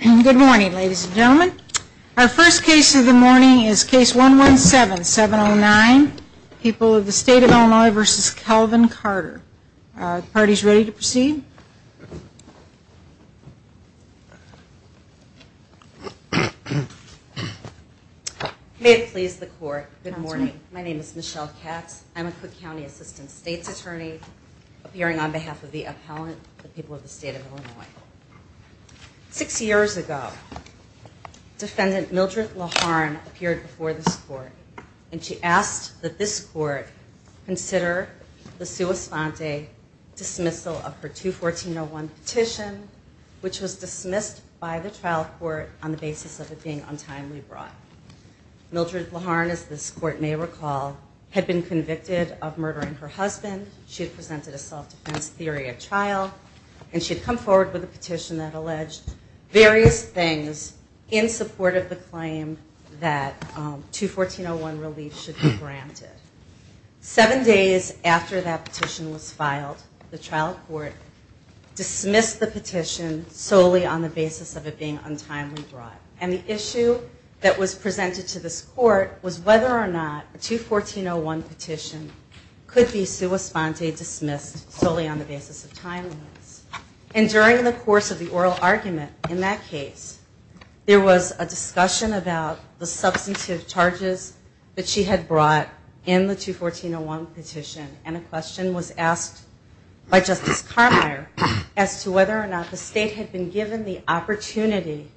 Good morning, ladies and gentlemen. Our first case of the morning is case 117709, People of the State of Illinois v. Calvin Carter. Are the parties ready to proceed? May it please the Court, good morning. My name is Michelle Katz. I'm a Cook County Assistant State's Attorney, appearing on behalf of the appellant, the People of the State of Illinois. Six years ago, Defendant Mildred Laharn appeared before this Court, and she asked that this Court consider the sua sponte dismissal of her 214-01 petition, which was dismissed by the trial court on the basis of it being untimely brought. Mildred Laharn, as this Court may recall, had been convicted of murdering her husband. She had presented a self-defense theory at trial, and she had come forward with a petition that alleged various things in support of the claim that 214-01 relief should be granted. Seven days after that petition was filed, the trial court dismissed the petition solely on the basis of it being untimely brought. And the issue that was presented to this Court was whether or not a 214-01 petition could be sua sponte dismissed solely on the basis of timeliness. And during the course of the oral argument in that case, there was a discussion about the substantive charges that she had brought in the 214-01 petition, and a question was asked by Justice Carmier as to whether or not the State had been given the opportunity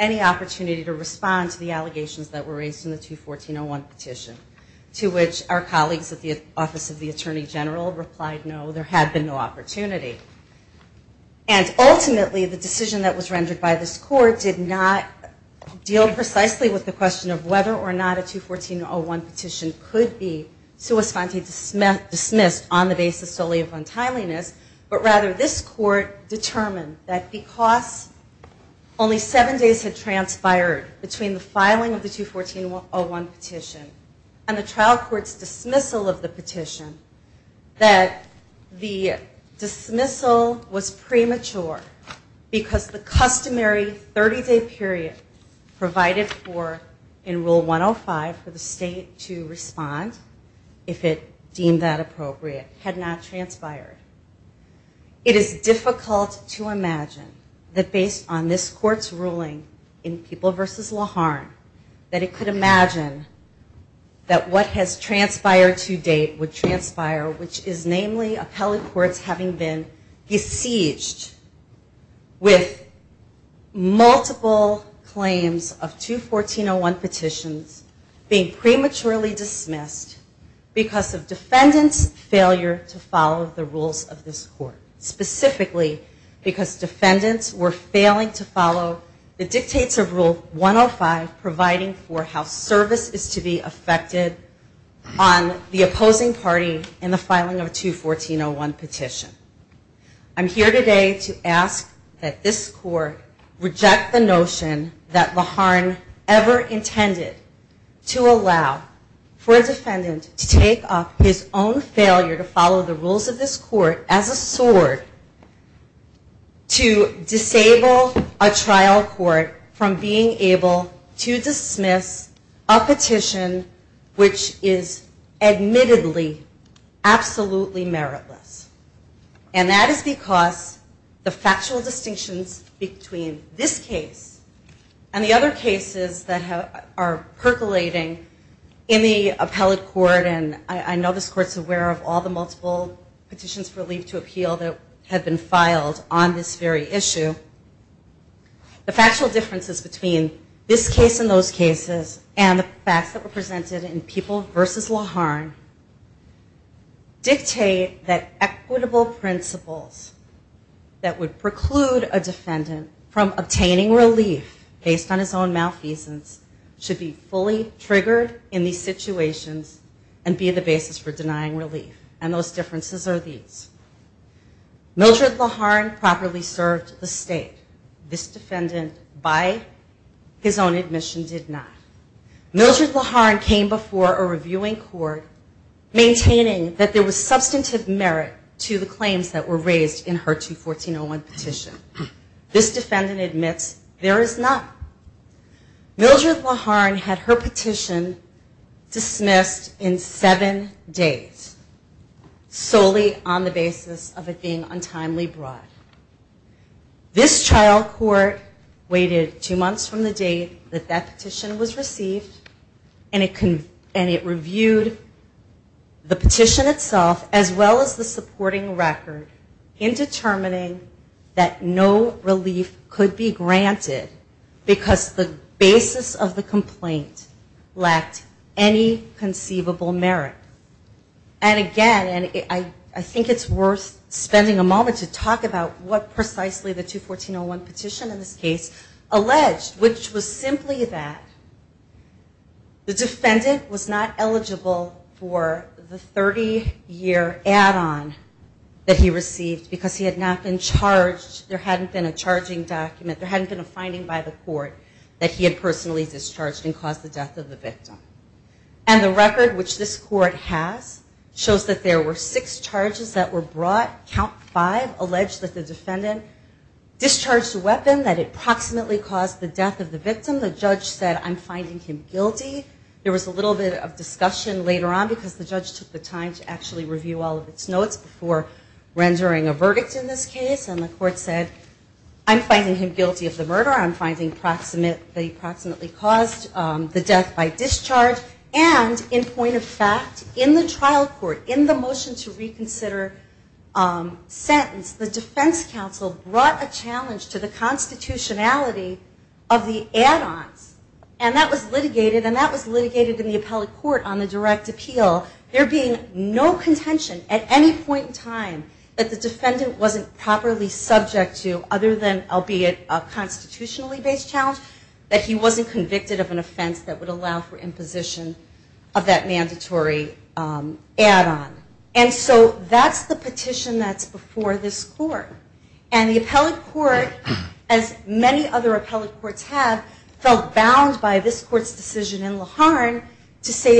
to respond to the allegations that were raised in the 214-01 petition, to which our colleagues at the Office of the Attorney General replied no, there had been no opportunity. And ultimately, the decision that was rendered by this Court did not deal precisely with the question of whether or not a 214-01 petition could be sua sponte dismissed on the basis solely of untimeliness, but rather this Court determined that because only seven days had transpired between the filing of the 214-01 petition and the trial court's dismissal of the petition, that the dismissal was premature because the customary 30-day period provided for in Rule 105 for the State to respond, if it deemed that appropriate, had not transpired. It is difficult to imagine that based on this Court's ruling in People v. Laharne, that it could imagine that what has transpired to date would transpire, which is namely appellate courts having been besieged with multiple claims of two 214-01 petitions being prematurely dismissed because of defendants' failure to follow the rules of this Court, specifically because defendants were failing to follow the dictates of Rule 105 providing for how service is to be affected on the opposing party in the filing of a 214-01 petition. I'm here today to ask that this Court reject the notion that Laharne ever intended to allow for a defendant to take up his own failure to follow the rules of this Court as a sword to disable a trial court from being able to dismiss a petition which is admittedly absolutely meritless, and that is because the factual distinctions between this case and the other cases that are percolating in the appellate court, and I know this Court's aware of all the multiple petitions for leave to appeal that have been filed on this very issue, the factual differences between this case and those cases and the facts that were presented in People v. Laharne dictate that equitable principles that would preclude a defendant from obtaining relief based on his own malfeasance should be fully triggered in these situations and be the basis for denying relief, and those differences are these. Mildred Laharne properly served the State. This defendant, by his own admission, did not. Mildred Laharne came before a reviewing court maintaining that there was substantive merit to the claims that were raised in her 214-01 petition. This defendant admits there is not. Mildred Laharne had her petition dismissed in seven days solely on the basis of it being untimely brought. This trial court waited two months from the day that that petition was received, and it reviewed the petition itself as well as the supporting record in determining that no relief could be granted because the basis of the complaint lacked any conceivable merit. And again, and I think it's worth spending a moment to talk about what precisely the 214-01 petition in this case alleged, which was simply that the defendant was not eligible for the 30-year add-on that he received because he had not been charged, there hadn't been a charging document, there hadn't been a finding by the court that he had personally discharged and caused the death of the victim. And the record, which this court has, shows that there were six charges that were brought. Count five alleged that the defendant discharged a weapon that approximately caused the death of the victim. The judge said, I'm finding him guilty. There was a little bit of discussion later on because the judge took the time to actually review all of its notes before rendering a verdict in this case, and the court said, I'm finding him guilty of the murder. I'm finding approximately caused the death by discharge. And in point of fact, in the trial court, in the motion to reconsider sentence, the defense counsel brought a challenge to the constitutionality of the add-ons, and that was litigated, and that was litigated in the appellate court on the direct appeal. There being no contention at any point in time that the defendant wasn't properly subject to other than, albeit a constitutionally based challenge, that he wasn't convicted of an offense that would allow for imposition of that mandatory add-on. And so that's the petition that's before this court. And the appellate court, as many other appellate courts have, felt bound by this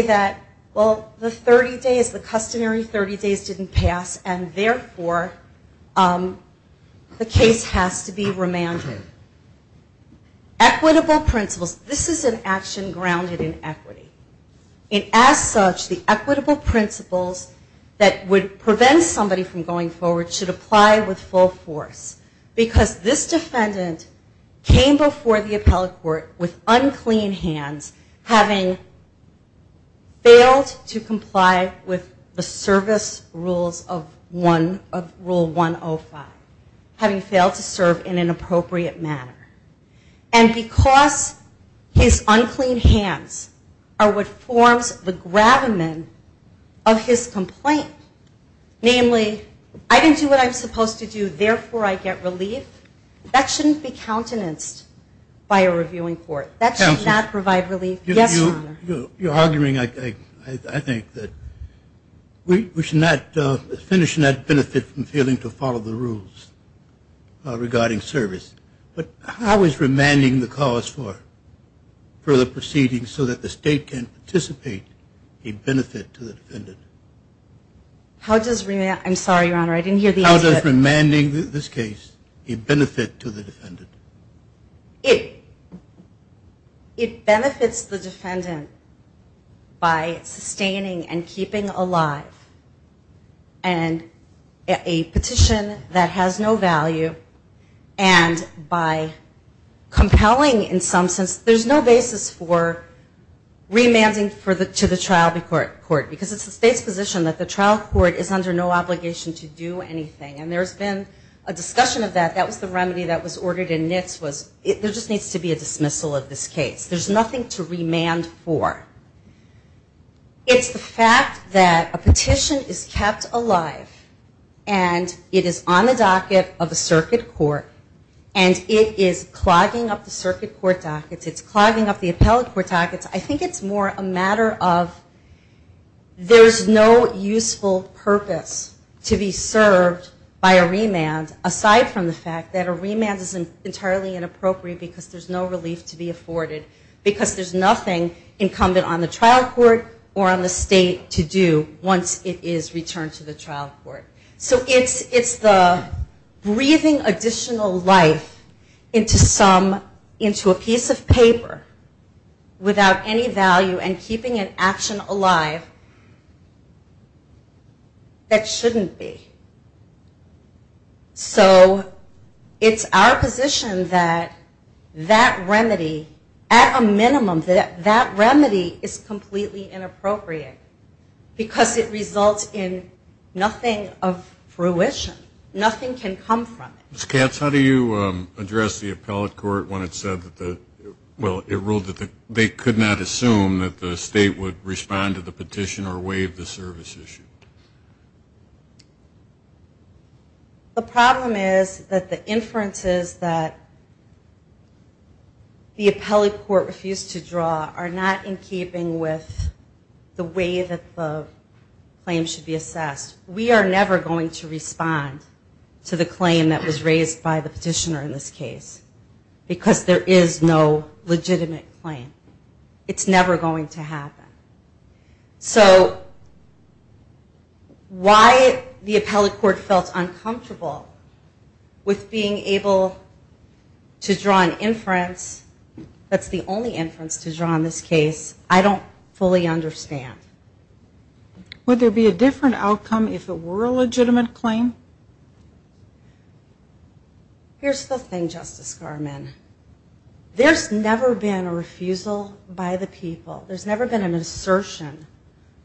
that the 30 days, the customary 30 days didn't pass, and therefore the case has to be remanded. Equitable principles. This is an action grounded in equity. And as such, the equitable principles that would prevent somebody from going forward should apply with full force. Because this defendant came before the appellate court with unclean hands, having failed to comply with the service rules of rule 105, having failed to serve in an appropriate manner, and because his unclean hands are what forms the gravamen of his complaint, namely, I didn't do what I'm supposed to do, therefore I get relief, that shouldn't be You're arguing, I think, that we should not finish and not benefit from failing to follow the rules regarding service. But how is remanding the cause for further proceedings so that the state can participate a benefit to the defendant? I'm sorry, Your Honor, I didn't hear the answer. How does remanding this case a benefit to the defendant? It benefits the defendant by sustaining and keeping alive a petition that has no value and by compelling in some sense, there's no basis for remanding to the trial court. Because it's the state's position that the trial court is under no obligation to do anything. And there's been a discussion of that, that was the remedy that was ordered in Nitz, there just needs to be a dismissal of this case. There's nothing to remand for. It's the fact that a petition is kept alive and it is on the docket of a circuit court and it is clogging up the circuit court dockets, it's clogging up the appellate court dockets, I think it's more a matter of there's no useful purpose to be by a remand aside from the fact that a remand is entirely inappropriate because there's no relief to be afforded because there's nothing incumbent on the trial court or on the state to do once it is returned to the trial court. So it's the breathing additional life into a piece of paper without any value and keeping an action alive that shouldn't be. So it's our position that that remedy, at a minimum, that that remedy is completely inappropriate because it results in nothing of fruition, nothing can come from it. Ms. Katz, how do you address the appellate court when it said that the, well, it ruled that they could not assume that the state would respond to the petition or waive the service issue? The problem is that the inferences that the appellate court refused to draw are not in keeping with the way that the claim should be assessed. We are never going to respond to the claim that was raised by the petitioner in this case because there is no legitimate claim. It's never going to happen. So why the appellate court felt uncomfortable with being able to draw an inference that's the only inference to draw in this case, I don't fully understand. Would there be a different outcome if it were a legitimate claim? Here's the thing, Justice Garmon. There's never been a refusal by the people. There's never been an assertion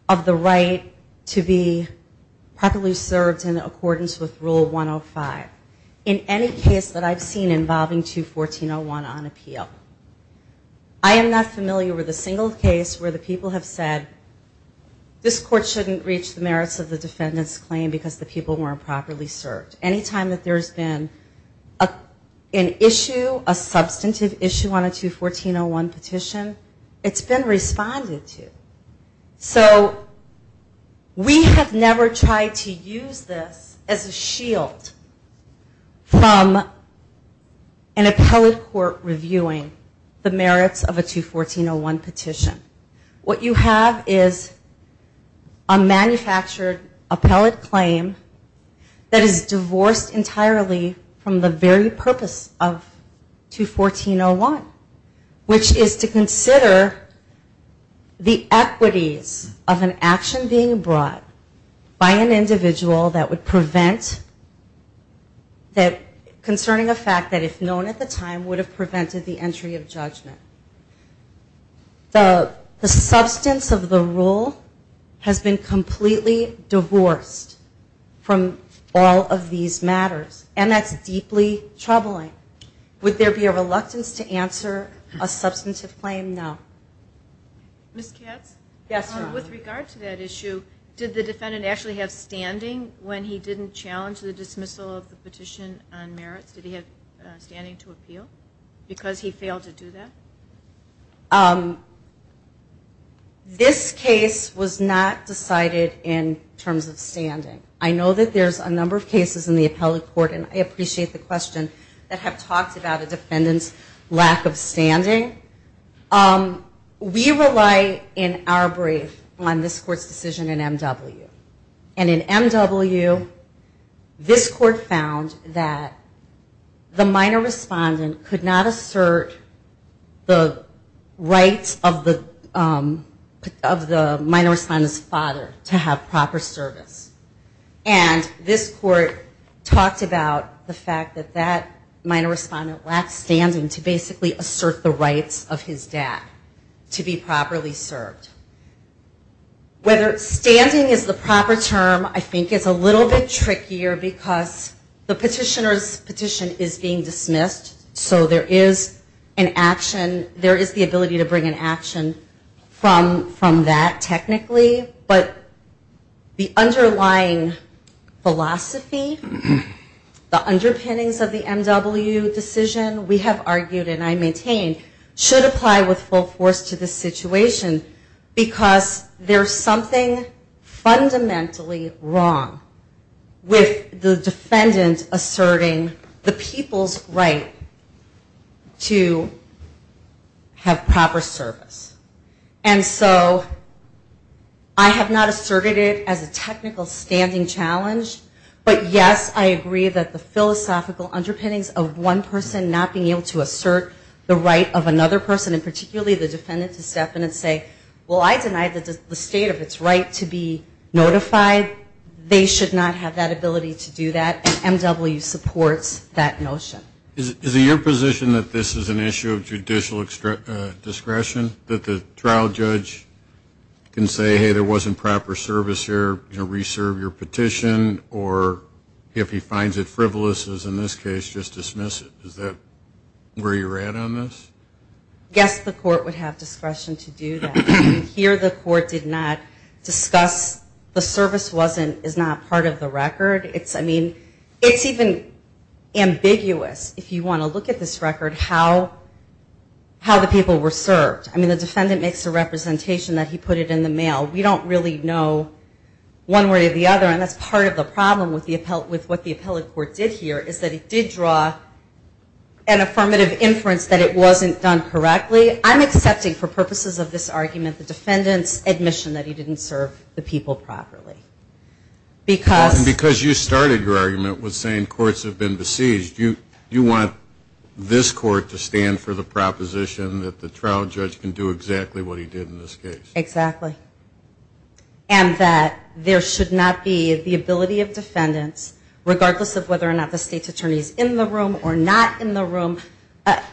of the right to be properly served in accordance with Rule 105 in any case that I've seen involving 214.01 on appeal. I am not familiar with a single case where the people have said, this court shouldn't reach the merits of the defendant's claim because the people weren't properly served. Any time that there's been an issue, a substantive issue on a 214.01 petition, it's been responded to. So we have never tried to use this as a shield from an appellate court reviewing the merits of a 214.01 petition. What you have is a manufactured appellate claim that is divorced entirely from the very purpose of 214.01, which is to consider the equities of an action being brought by an individual that would prevent, concerning a fact that if known at the time would have prevented the entry of judgment. The substance of the rule has been completely divorced from all of these matters. And that's deeply troubling. Would there be a reluctance to answer a substantive claim? No. Ms. Katz? Yes, ma'am. With regard to that issue, did the defendant actually have standing when he didn't challenge the dismissal of the petition on merits? Did he have standing to appeal because he failed to do that? This case was not decided in terms of standing. I know that there's a number of cases in the appellate court, and I appreciate the question, that have talked about a defendant's lack of standing. We rely in our brief on this court's decision in MW. And in MW, this court found that the minor respondent could not assert the rights of the minor respondent's father to have proper service. And this court talked about the fact that that minor respondent lacked standing to basically assert the rights of his dad to be properly served. Whether standing is the proper term I think is a little bit trickier because the petitioner's petition is being dismissed, so there is an action, there is the ability to bring an action from that technically. But the underlying philosophy, the underpinnings of the MW decision, we have argued and I maintain, should apply with full force to this situation because there's something fundamentally wrong with the defendant asserting the people's right to have proper service. And so I have not asserted it as a technical standing challenge, but yes, I agree that the philosophical underpinnings of one person not being able to assert the right of another person, and particularly the defendant to step in and say, well, I deny the state of its right to be notified. They should not have that ability to do that, and MW supports that notion. Is it your position that this is an issue of judicial discretion? That the trial judge can say, hey, there wasn't proper service here, you know, reserve your petition, or if he finds it frivolous, as in this case, just dismiss it? Is that where you're at on this? Yes, the court would have discretion to do that. Here the court did not discuss the service is not part of the record. It's, I mean, it's even ambiguous if you want to look at this record, how the people were served. I mean, the defendant makes a representation that he put it in the mail. We don't really know one way or the other, and that's part of the problem with what the appellate court did here, is that it did draw an affirmative inference that it wasn't done correctly. I'm accepting, for purposes of this argument, the defendant's admission that he didn't serve the people properly. And because you started your argument with saying courts have been besieged, you want this court to stand for the proposition that the trial judge can do exactly what he did in this case? Exactly. And that there should not be the ability of defendants, regardless of whether or not the state's attorney is in the room or not in the room,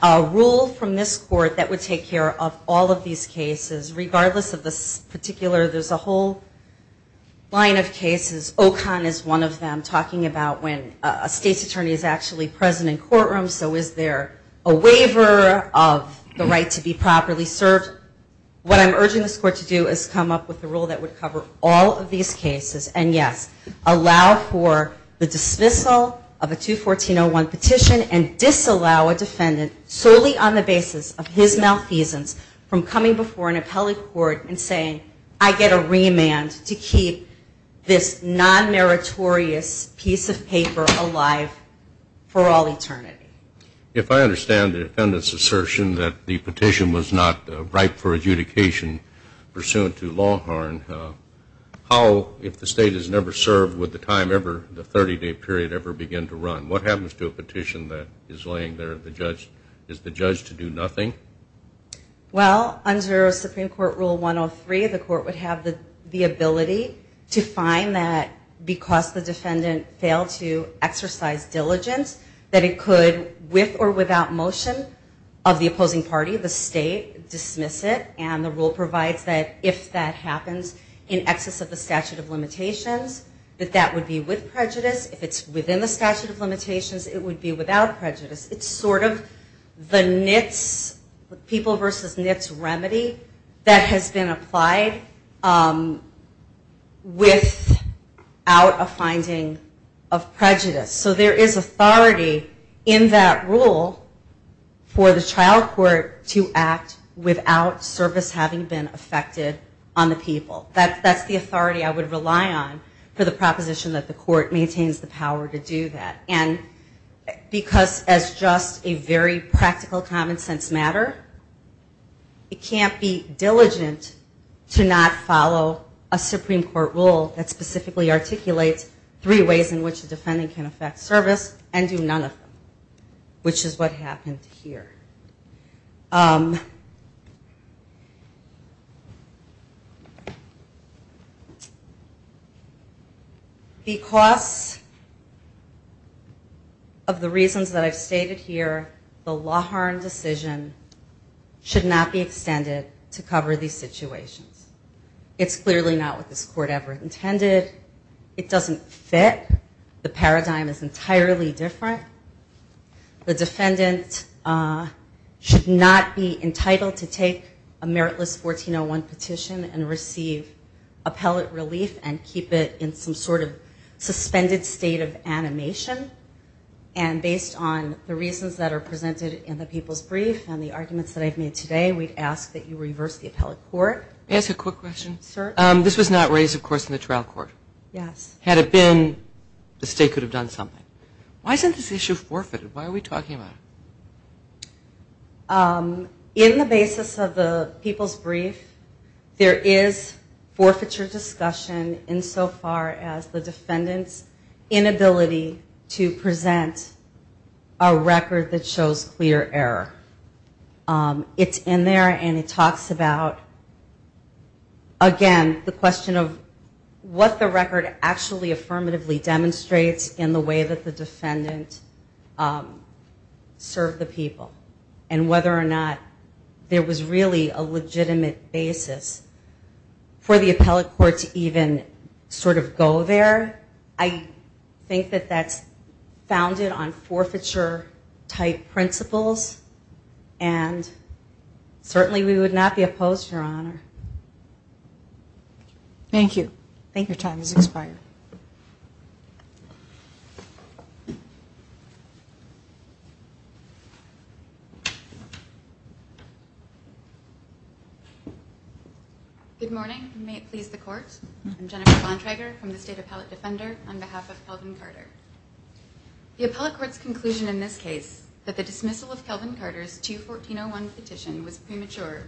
a rule from this court that would take care of all of these cases, regardless of this particular, there's a whole line of cases, OCON is one of them, talking about when a state's attorney is actually present in courtrooms, so is there a waiver of the right to be properly served? What I'm urging this court to do is come up with a rule that would cover all of these cases, and yes, allow for the dismissal of a 214-01 petition and disallow a defendant, solely on the basis of his malfeasance, from coming before an appellate court and saying, I get a remand to keep this non-meritorious piece of paper alive for all eternity. If I understand the defendant's assertion that the petition was not ripe for adjudication, pursuant to Longhorn, how, if the state has never served, would the 30-day period ever begin to run? What happens to a petition that is laying there, is the judge to do nothing? Well, under Supreme Court Rule 103, the court would have the ability to find that, because the defendant failed to exercise diligence, that it could, with or without motion of the opposing party, the state, dismiss it, and the rule provides that if that happens in excess of the statute of limitations, that that would be with prejudice. If it's within the statute of limitations, it would be without prejudice. It's sort of the NITS, people versus NITS remedy, that has been applied without a finding of prejudice. So there is authority in that rule for the trial court to act without service having been affected on the people. That's the authority I would rely on for the proposition that the court maintains the power to do that. And because as just a very practical common sense matter, it can't be diligent to not follow a Supreme Court rule that specifically articulates three ways in which a defendant can affect service and do none of them, which is what happened here. Because of the reasons that I've stated here, the LaHarne decision should not be extended to cover these situations. It's clearly not what this court ever intended. It doesn't fit. The paradigm is entirely different. The defendant should not be entitled to take a meritless 1401 petition and receive appellate relief and keep it in some sort of suspended state of animation. And based on the reasons that are presented in the people's brief and the arguments that I've made today, we'd ask that you reverse the appellate court. Why isn't this issue forfeited? Why are we talking about it? In the basis of the people's brief, there is forfeiture discussion insofar as the defendant's inability to present a record that shows clear error. It's in there and it talks about, again, the question of what the record actually affirmatively demonstrates in the way that the defendant served the people. And whether or not there was really a legitimate basis for the appellate court to even sort of go there. I think that that's founded on forfeiture type principles. And certainly we would not be opposed, Your Honor. Thank you. Thank you. Your time has expired. Good morning. May it please the court. I'm Jennifer Bontrager from the State Appellate Defender on behalf of Kelvin Carter. The appellate court's conclusion in this case that the dismissal of Kelvin Carter's 214-01 petition was premature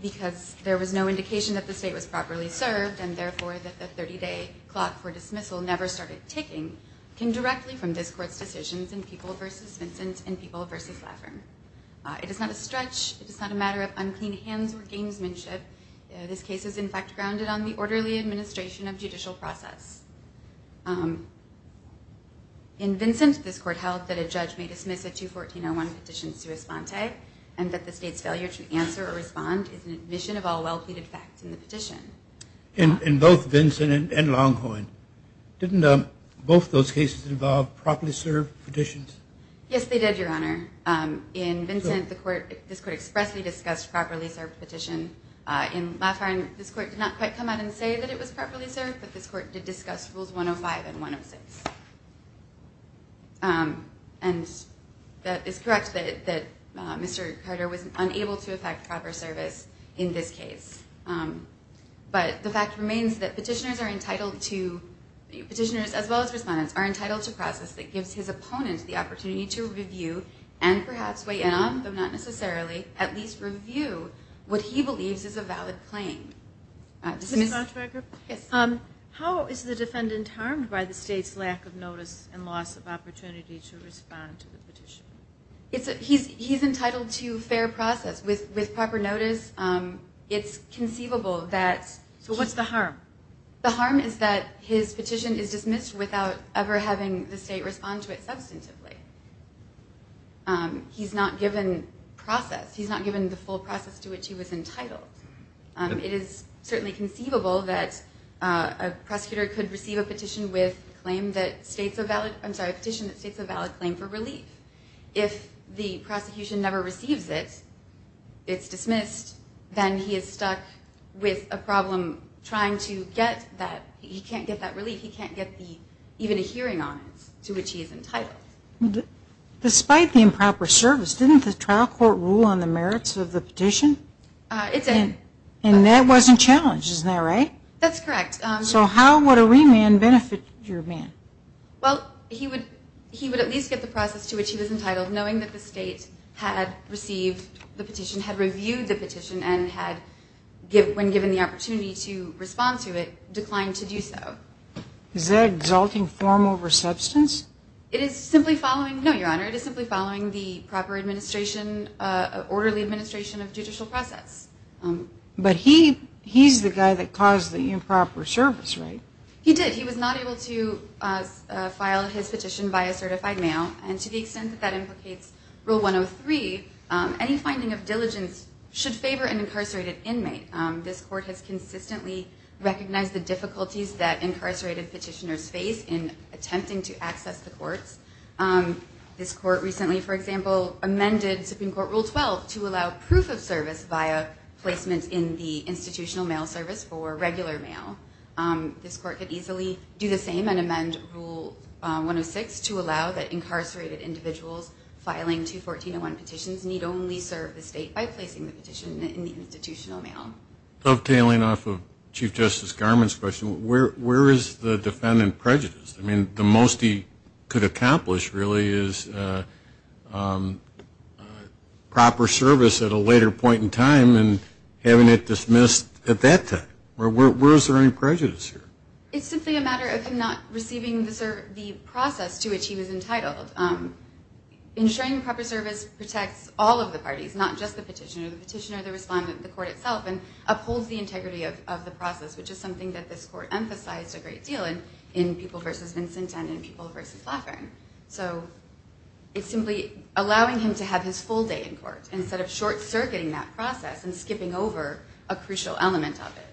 because there was no indication that the state was properly served and therefore that the 30-day clock for dismissal never started ticking came directly from this court's decisions in People v. Vincent and People v. Laffern. It is not a stretch. It is not a matter of unclean hands or gamesmanship. This case is, in fact, grounded on the orderly administration of judicial process. In Vincent, this court held that a judge may dismiss a 214-01 petition sui sponte and that the state's failure to answer or respond is an admission of all well-pleaded facts in the petition. In both Vincent and Longhorn, didn't both those cases involve properly served petitions? Yes, they did, Your Honor. In Vincent, this court expressly discussed properly served petition. In Laffern, this court did not quite come out and say that it was properly served, but this court did discuss Rules 105 and 106. And that is correct that Mr. Carter was unable to effect proper service in this case. But the fact remains that petitioners, as well as respondents, are entitled to process that gives his opponent the opportunity to review and perhaps weigh in on, though not necessarily, at least review what he believes is a valid claim. How is the defendant harmed by the state's lack of notice and loss of opportunity to respond to the petition? He's entitled to fair process. With proper notice, it's conceivable that... So what's the harm? The harm is that his petition is dismissed without ever having the state respond to it substantively. He's not given process. He's not given the full process to which he was entitled. It is certainly conceivable that a prosecutor could receive a petition that states a valid claim for relief. If the prosecution never receives it, it's dismissed, then he is stuck with a problem trying to get that... He can't get that relief. He can't get even a hearing on it to which he is entitled. Despite the improper service, didn't the trial court rule on the merits of the petition? And that wasn't challenged, isn't that right? That's correct. So how would a remand benefit your man? Well, he would at least get the process to which he was entitled, knowing that the state had received the petition, had reviewed the petition, and had, when given the opportunity to respond to it, declined to do so. Is that exalting form over substance? No, Your Honor. It is simply following the proper orderly administration of judicial process. But he's the guy that caused the improper service, right? He did. He was not able to file his petition via certified mail, and to the extent that that implicates Rule 103, any finding of diligence should favor an incarcerated inmate. This court has consistently recognized the difficulties that incarcerated petitioners face in attempting to access the courts. This court recently, for example, amended Supreme Court Rule 12 to allow proof of service via placement in the institutional mail service for regular mail. This court could easily do the same and amend Rule 106 to allow that incarcerated individuals filing 214-01 petitions need only serve the state by placing the petition in the institutional mail. Dovetailing off of Chief Justice Garmon's question, where is the defendant prejudiced? I mean, the most he could accomplish, really, is proper service at a later point in time and having it dismissed at that time. Where is there any prejudice here? It's simply a matter of him not receiving the process to which he was entitled. Ensuring proper service protects all of the parties, not just the petitioner. The petitioner, the respondent, the court itself, and upholds the integrity of the process, which is something that this court emphasized a great deal in People v. Vincent and in People v. Laffren. So it's simply allowing him to have his full day in court instead of short-circuiting that process and skipping over a crucial element of it.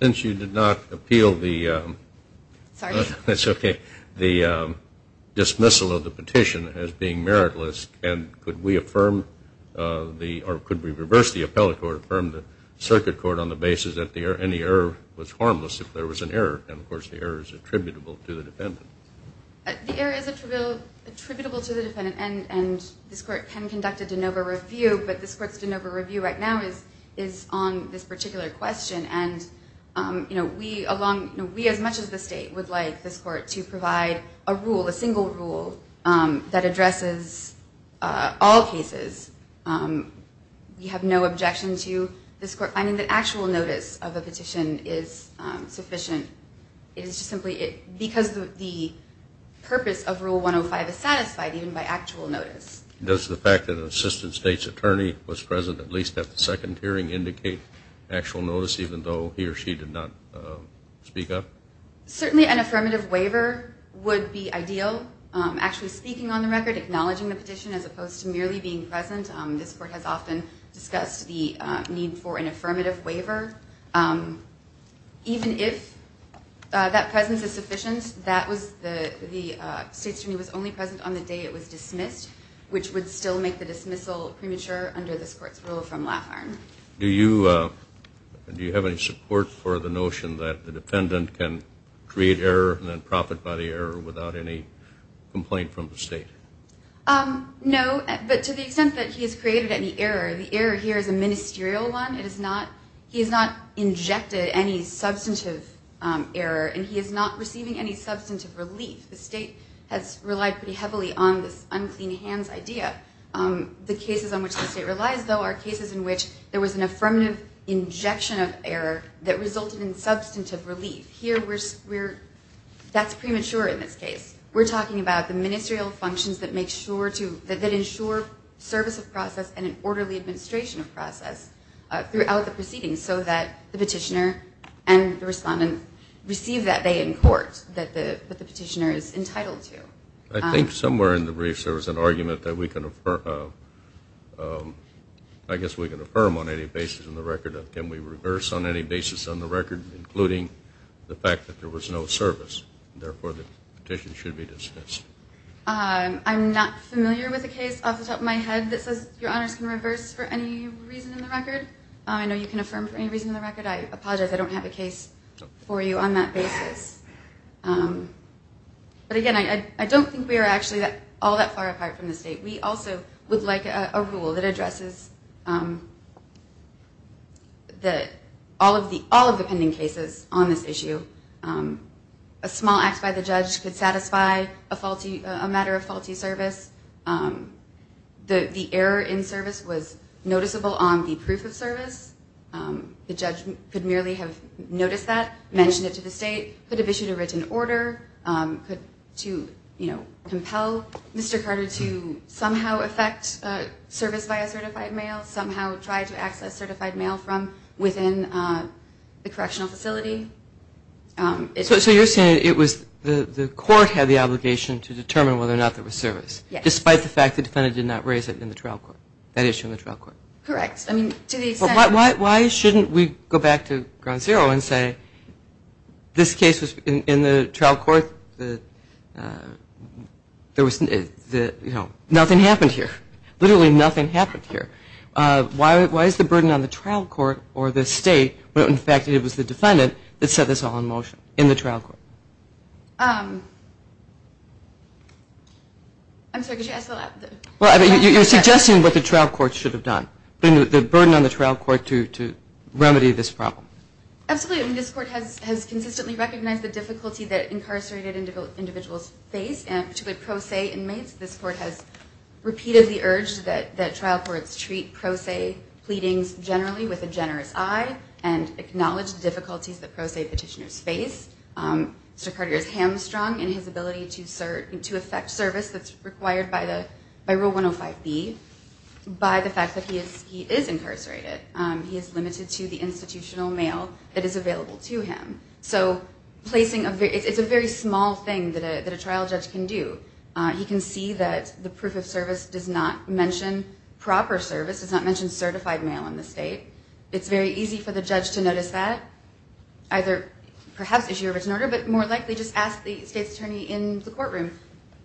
Since you did not appeal the dismissal of the petition as being meritless, could we reverse the appellate court and affirm the circuit court on the basis that any error was harmless if there was an error, and of course the error is attributable to the defendant? The error is attributable to the defendant, and this court can conduct a de novo review. But this court's de novo review right now is on this particular question. We, as much as the state, would like this court to provide a rule, a single rule, that addresses all cases. We have no objection to this court finding that actual notice of a petition is sufficient. It is simply because the purpose of Rule 105 is satisfied even by actual notice. Does the fact that an assistant state's attorney was present at least at the second hearing indicate actual notice even though he or she did not speak up? Certainly an affirmative waiver would be ideal. Actually speaking on the record, acknowledging the petition as opposed to merely being present. This court has often discussed the need for an affirmative waiver. Even if that presence is sufficient, the state's attorney was only present on the day it was dismissed, which would still make the dismissal premature under this court's rule from Laffarne. Do you have any support for the notion that the defendant can create error and then profit by the error without any complaint from the state? No, but to the extent that he has created any error, the error here is a ministerial one. He has not injected any substantive error and he is not receiving any substantive relief. The state has relied pretty heavily on this unclean hands idea. The cases on which the state relies, though, are cases in which there was an affirmative injection of error that resulted in substantive relief. That's premature in this case. We're talking about the ministerial functions that ensure service of process and an orderly administration of process throughout the proceeding so that the petitioner and the respondent receive that they in court that the petitioner is entitled to. I think somewhere in the briefs there was an argument that we can affirm on any basis on the record. Can we reverse on any basis on the record, including the fact that there was no service? Therefore, the petition should be dismissed. I'm not familiar with a case off the top of my head that says your honors can reverse for any reason on the record. I know you can affirm for any reason on the record. I apologize. I don't have a case for you on that basis. But again, I don't think we are actually all that far apart from the state. We also would like a rule that addresses all of the pending cases on this issue. A small act by the judge could satisfy a matter of faulty service. The error in service was noticeable on the proof of service. The judge could merely have noticed that, mentioned it to the state, could have issued a written order, could to compel Mr. Carter to submit a written order. It could somehow affect service via certified mail, somehow try to access certified mail from within the correctional facility. So you're saying it was the court had the obligation to determine whether or not there was service, despite the fact the defendant did not raise it in the trial court, that issue in the trial court? Correct. I mean, to the extent... Why shouldn't we go back to ground zero and say this case was in the trial court. Nothing happened here. Literally nothing happened here. Why is the burden on the trial court or the state when in fact it was the defendant that set this all in motion in the trial court? I'm sorry, could you ask that? You're suggesting what the trial court should have done, the burden on the trial court to remedy this problem. Absolutely. This court has consistently recognized the difficulty that incarcerated individuals face, particularly pro se inmates. This court has repeatedly urged that trial courts treat pro se pleadings generally with a generous eye and acknowledge the difficulties that pro se petitioners face. Mr. Cartier is hamstrung in his ability to affect service that's required by Rule 105B, by the fact that he is incarcerated. He is limited to the institutional mail that is available to him. It's a very small thing that a trial judge can do. He can see that the proof of service does not mention proper service, does not mention certified mail in the state. It's very easy for the judge to notice that. Perhaps issue a written order, but more likely just ask the state's attorney in the courtroom,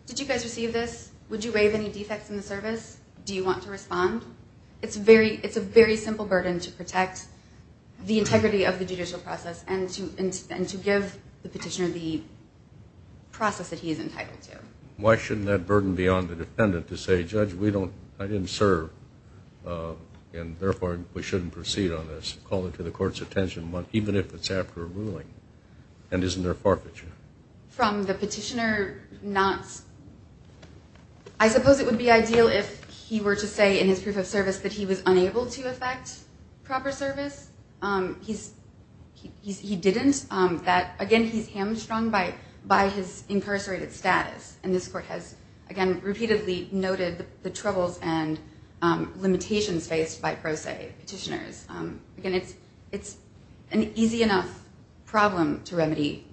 did you guys receive this? Would you waive any defects in the service? Do you want to respond? It's a very simple burden to protect the integrity of the judicial process and to give the petitioner the process that he is entitled to. Why shouldn't that burden be on the defendant to say, judge, I didn't serve, and therefore we shouldn't proceed on this? Call it to the court's attention, even if it's after a ruling, and isn't there forfeiture? From the petitioner, I suppose it would be ideal if he were to say in his proof of service that he was unable to affect proper service. He didn't. Again, he's hamstrung by his incarcerated status. And this court has, again, repeatedly noted the troubles and limitations faced by pro se petitioners. Again, it's an easy enough problem to remedy.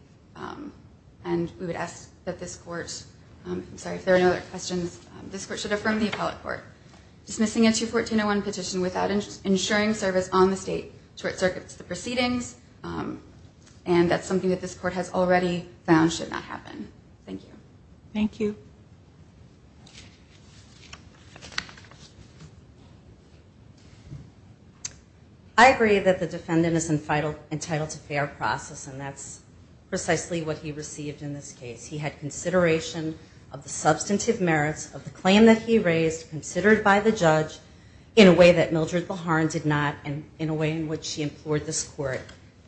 And we would ask that this court, I'm sorry if there are no other questions, this court should affirm the appellate court. Dismissing a 214-01 petition without ensuring service on the state court circuit to the proceedings, and that's something that this court has already found should not happen. Thank you. I agree that the defendant is entitled to fair process, and that's precisely what he received in this case. He had consideration of the substantive merits of the claim that he raised, considered by the judge, in a way that Mildred Laharn did not, and in a way in which she implored this court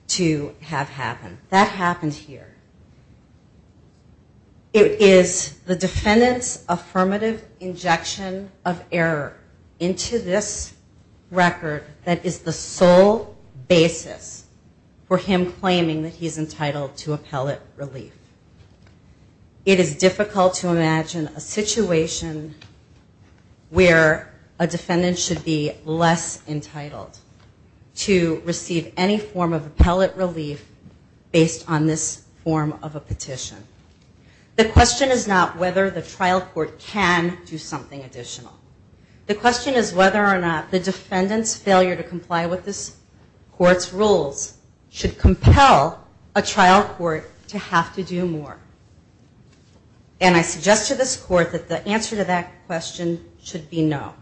to have happen. That happened here. It is the defendant's affirmative injection of error into this record that is the sole basis for him claiming that he's entitled to appellate relief. It is difficult to imagine a situation where a defendant should be less entitled to receive any form of appellate relief based on this form of a petition. The question is not whether the trial court can do something additional. The question is whether or not the defendant's failure to comply with this court's rules should compel a trial court to have to do more. And I suggest to this court that the answer to that question should be no.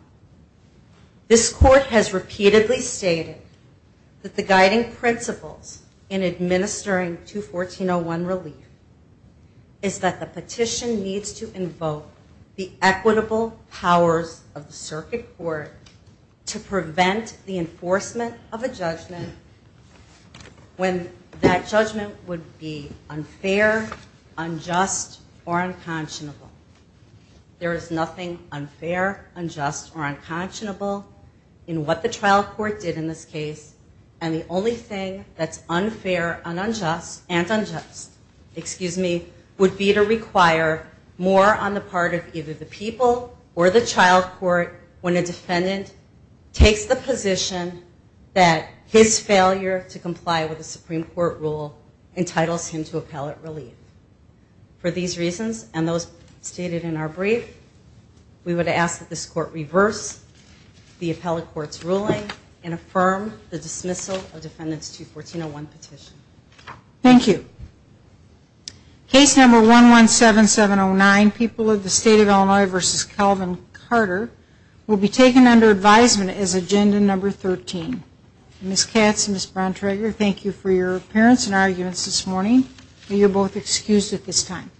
This court has repeatedly stated that the guiding principles in administering 214.01 relief is that the petition needs to invoke the equitable powers of the circuit court to prevent the enforcement of a judgment when that judgment would be unfair, unjust, or unfair. There is nothing unfair, unjust, or unconscionable in what the trial court did in this case, and the only thing that's unfair and unjust would be to require more on the part of either the people or the trial court when a defendant takes the position that his failure to comply with the Supreme Court rule entitles him to appellate relief. And so, for these reasons and those stated in our brief, we would ask that this court reverse the appellate court's ruling and affirm the dismissal of defendant's 214.01 petition. Thank you. Case number 117709, People of the State of Illinois v. Calvin Carter, will be taken under advisement as agenda number 13. Ms. Katz and Ms. Brontrager, thank you for your appearance in our units this morning. You are both excused at this time.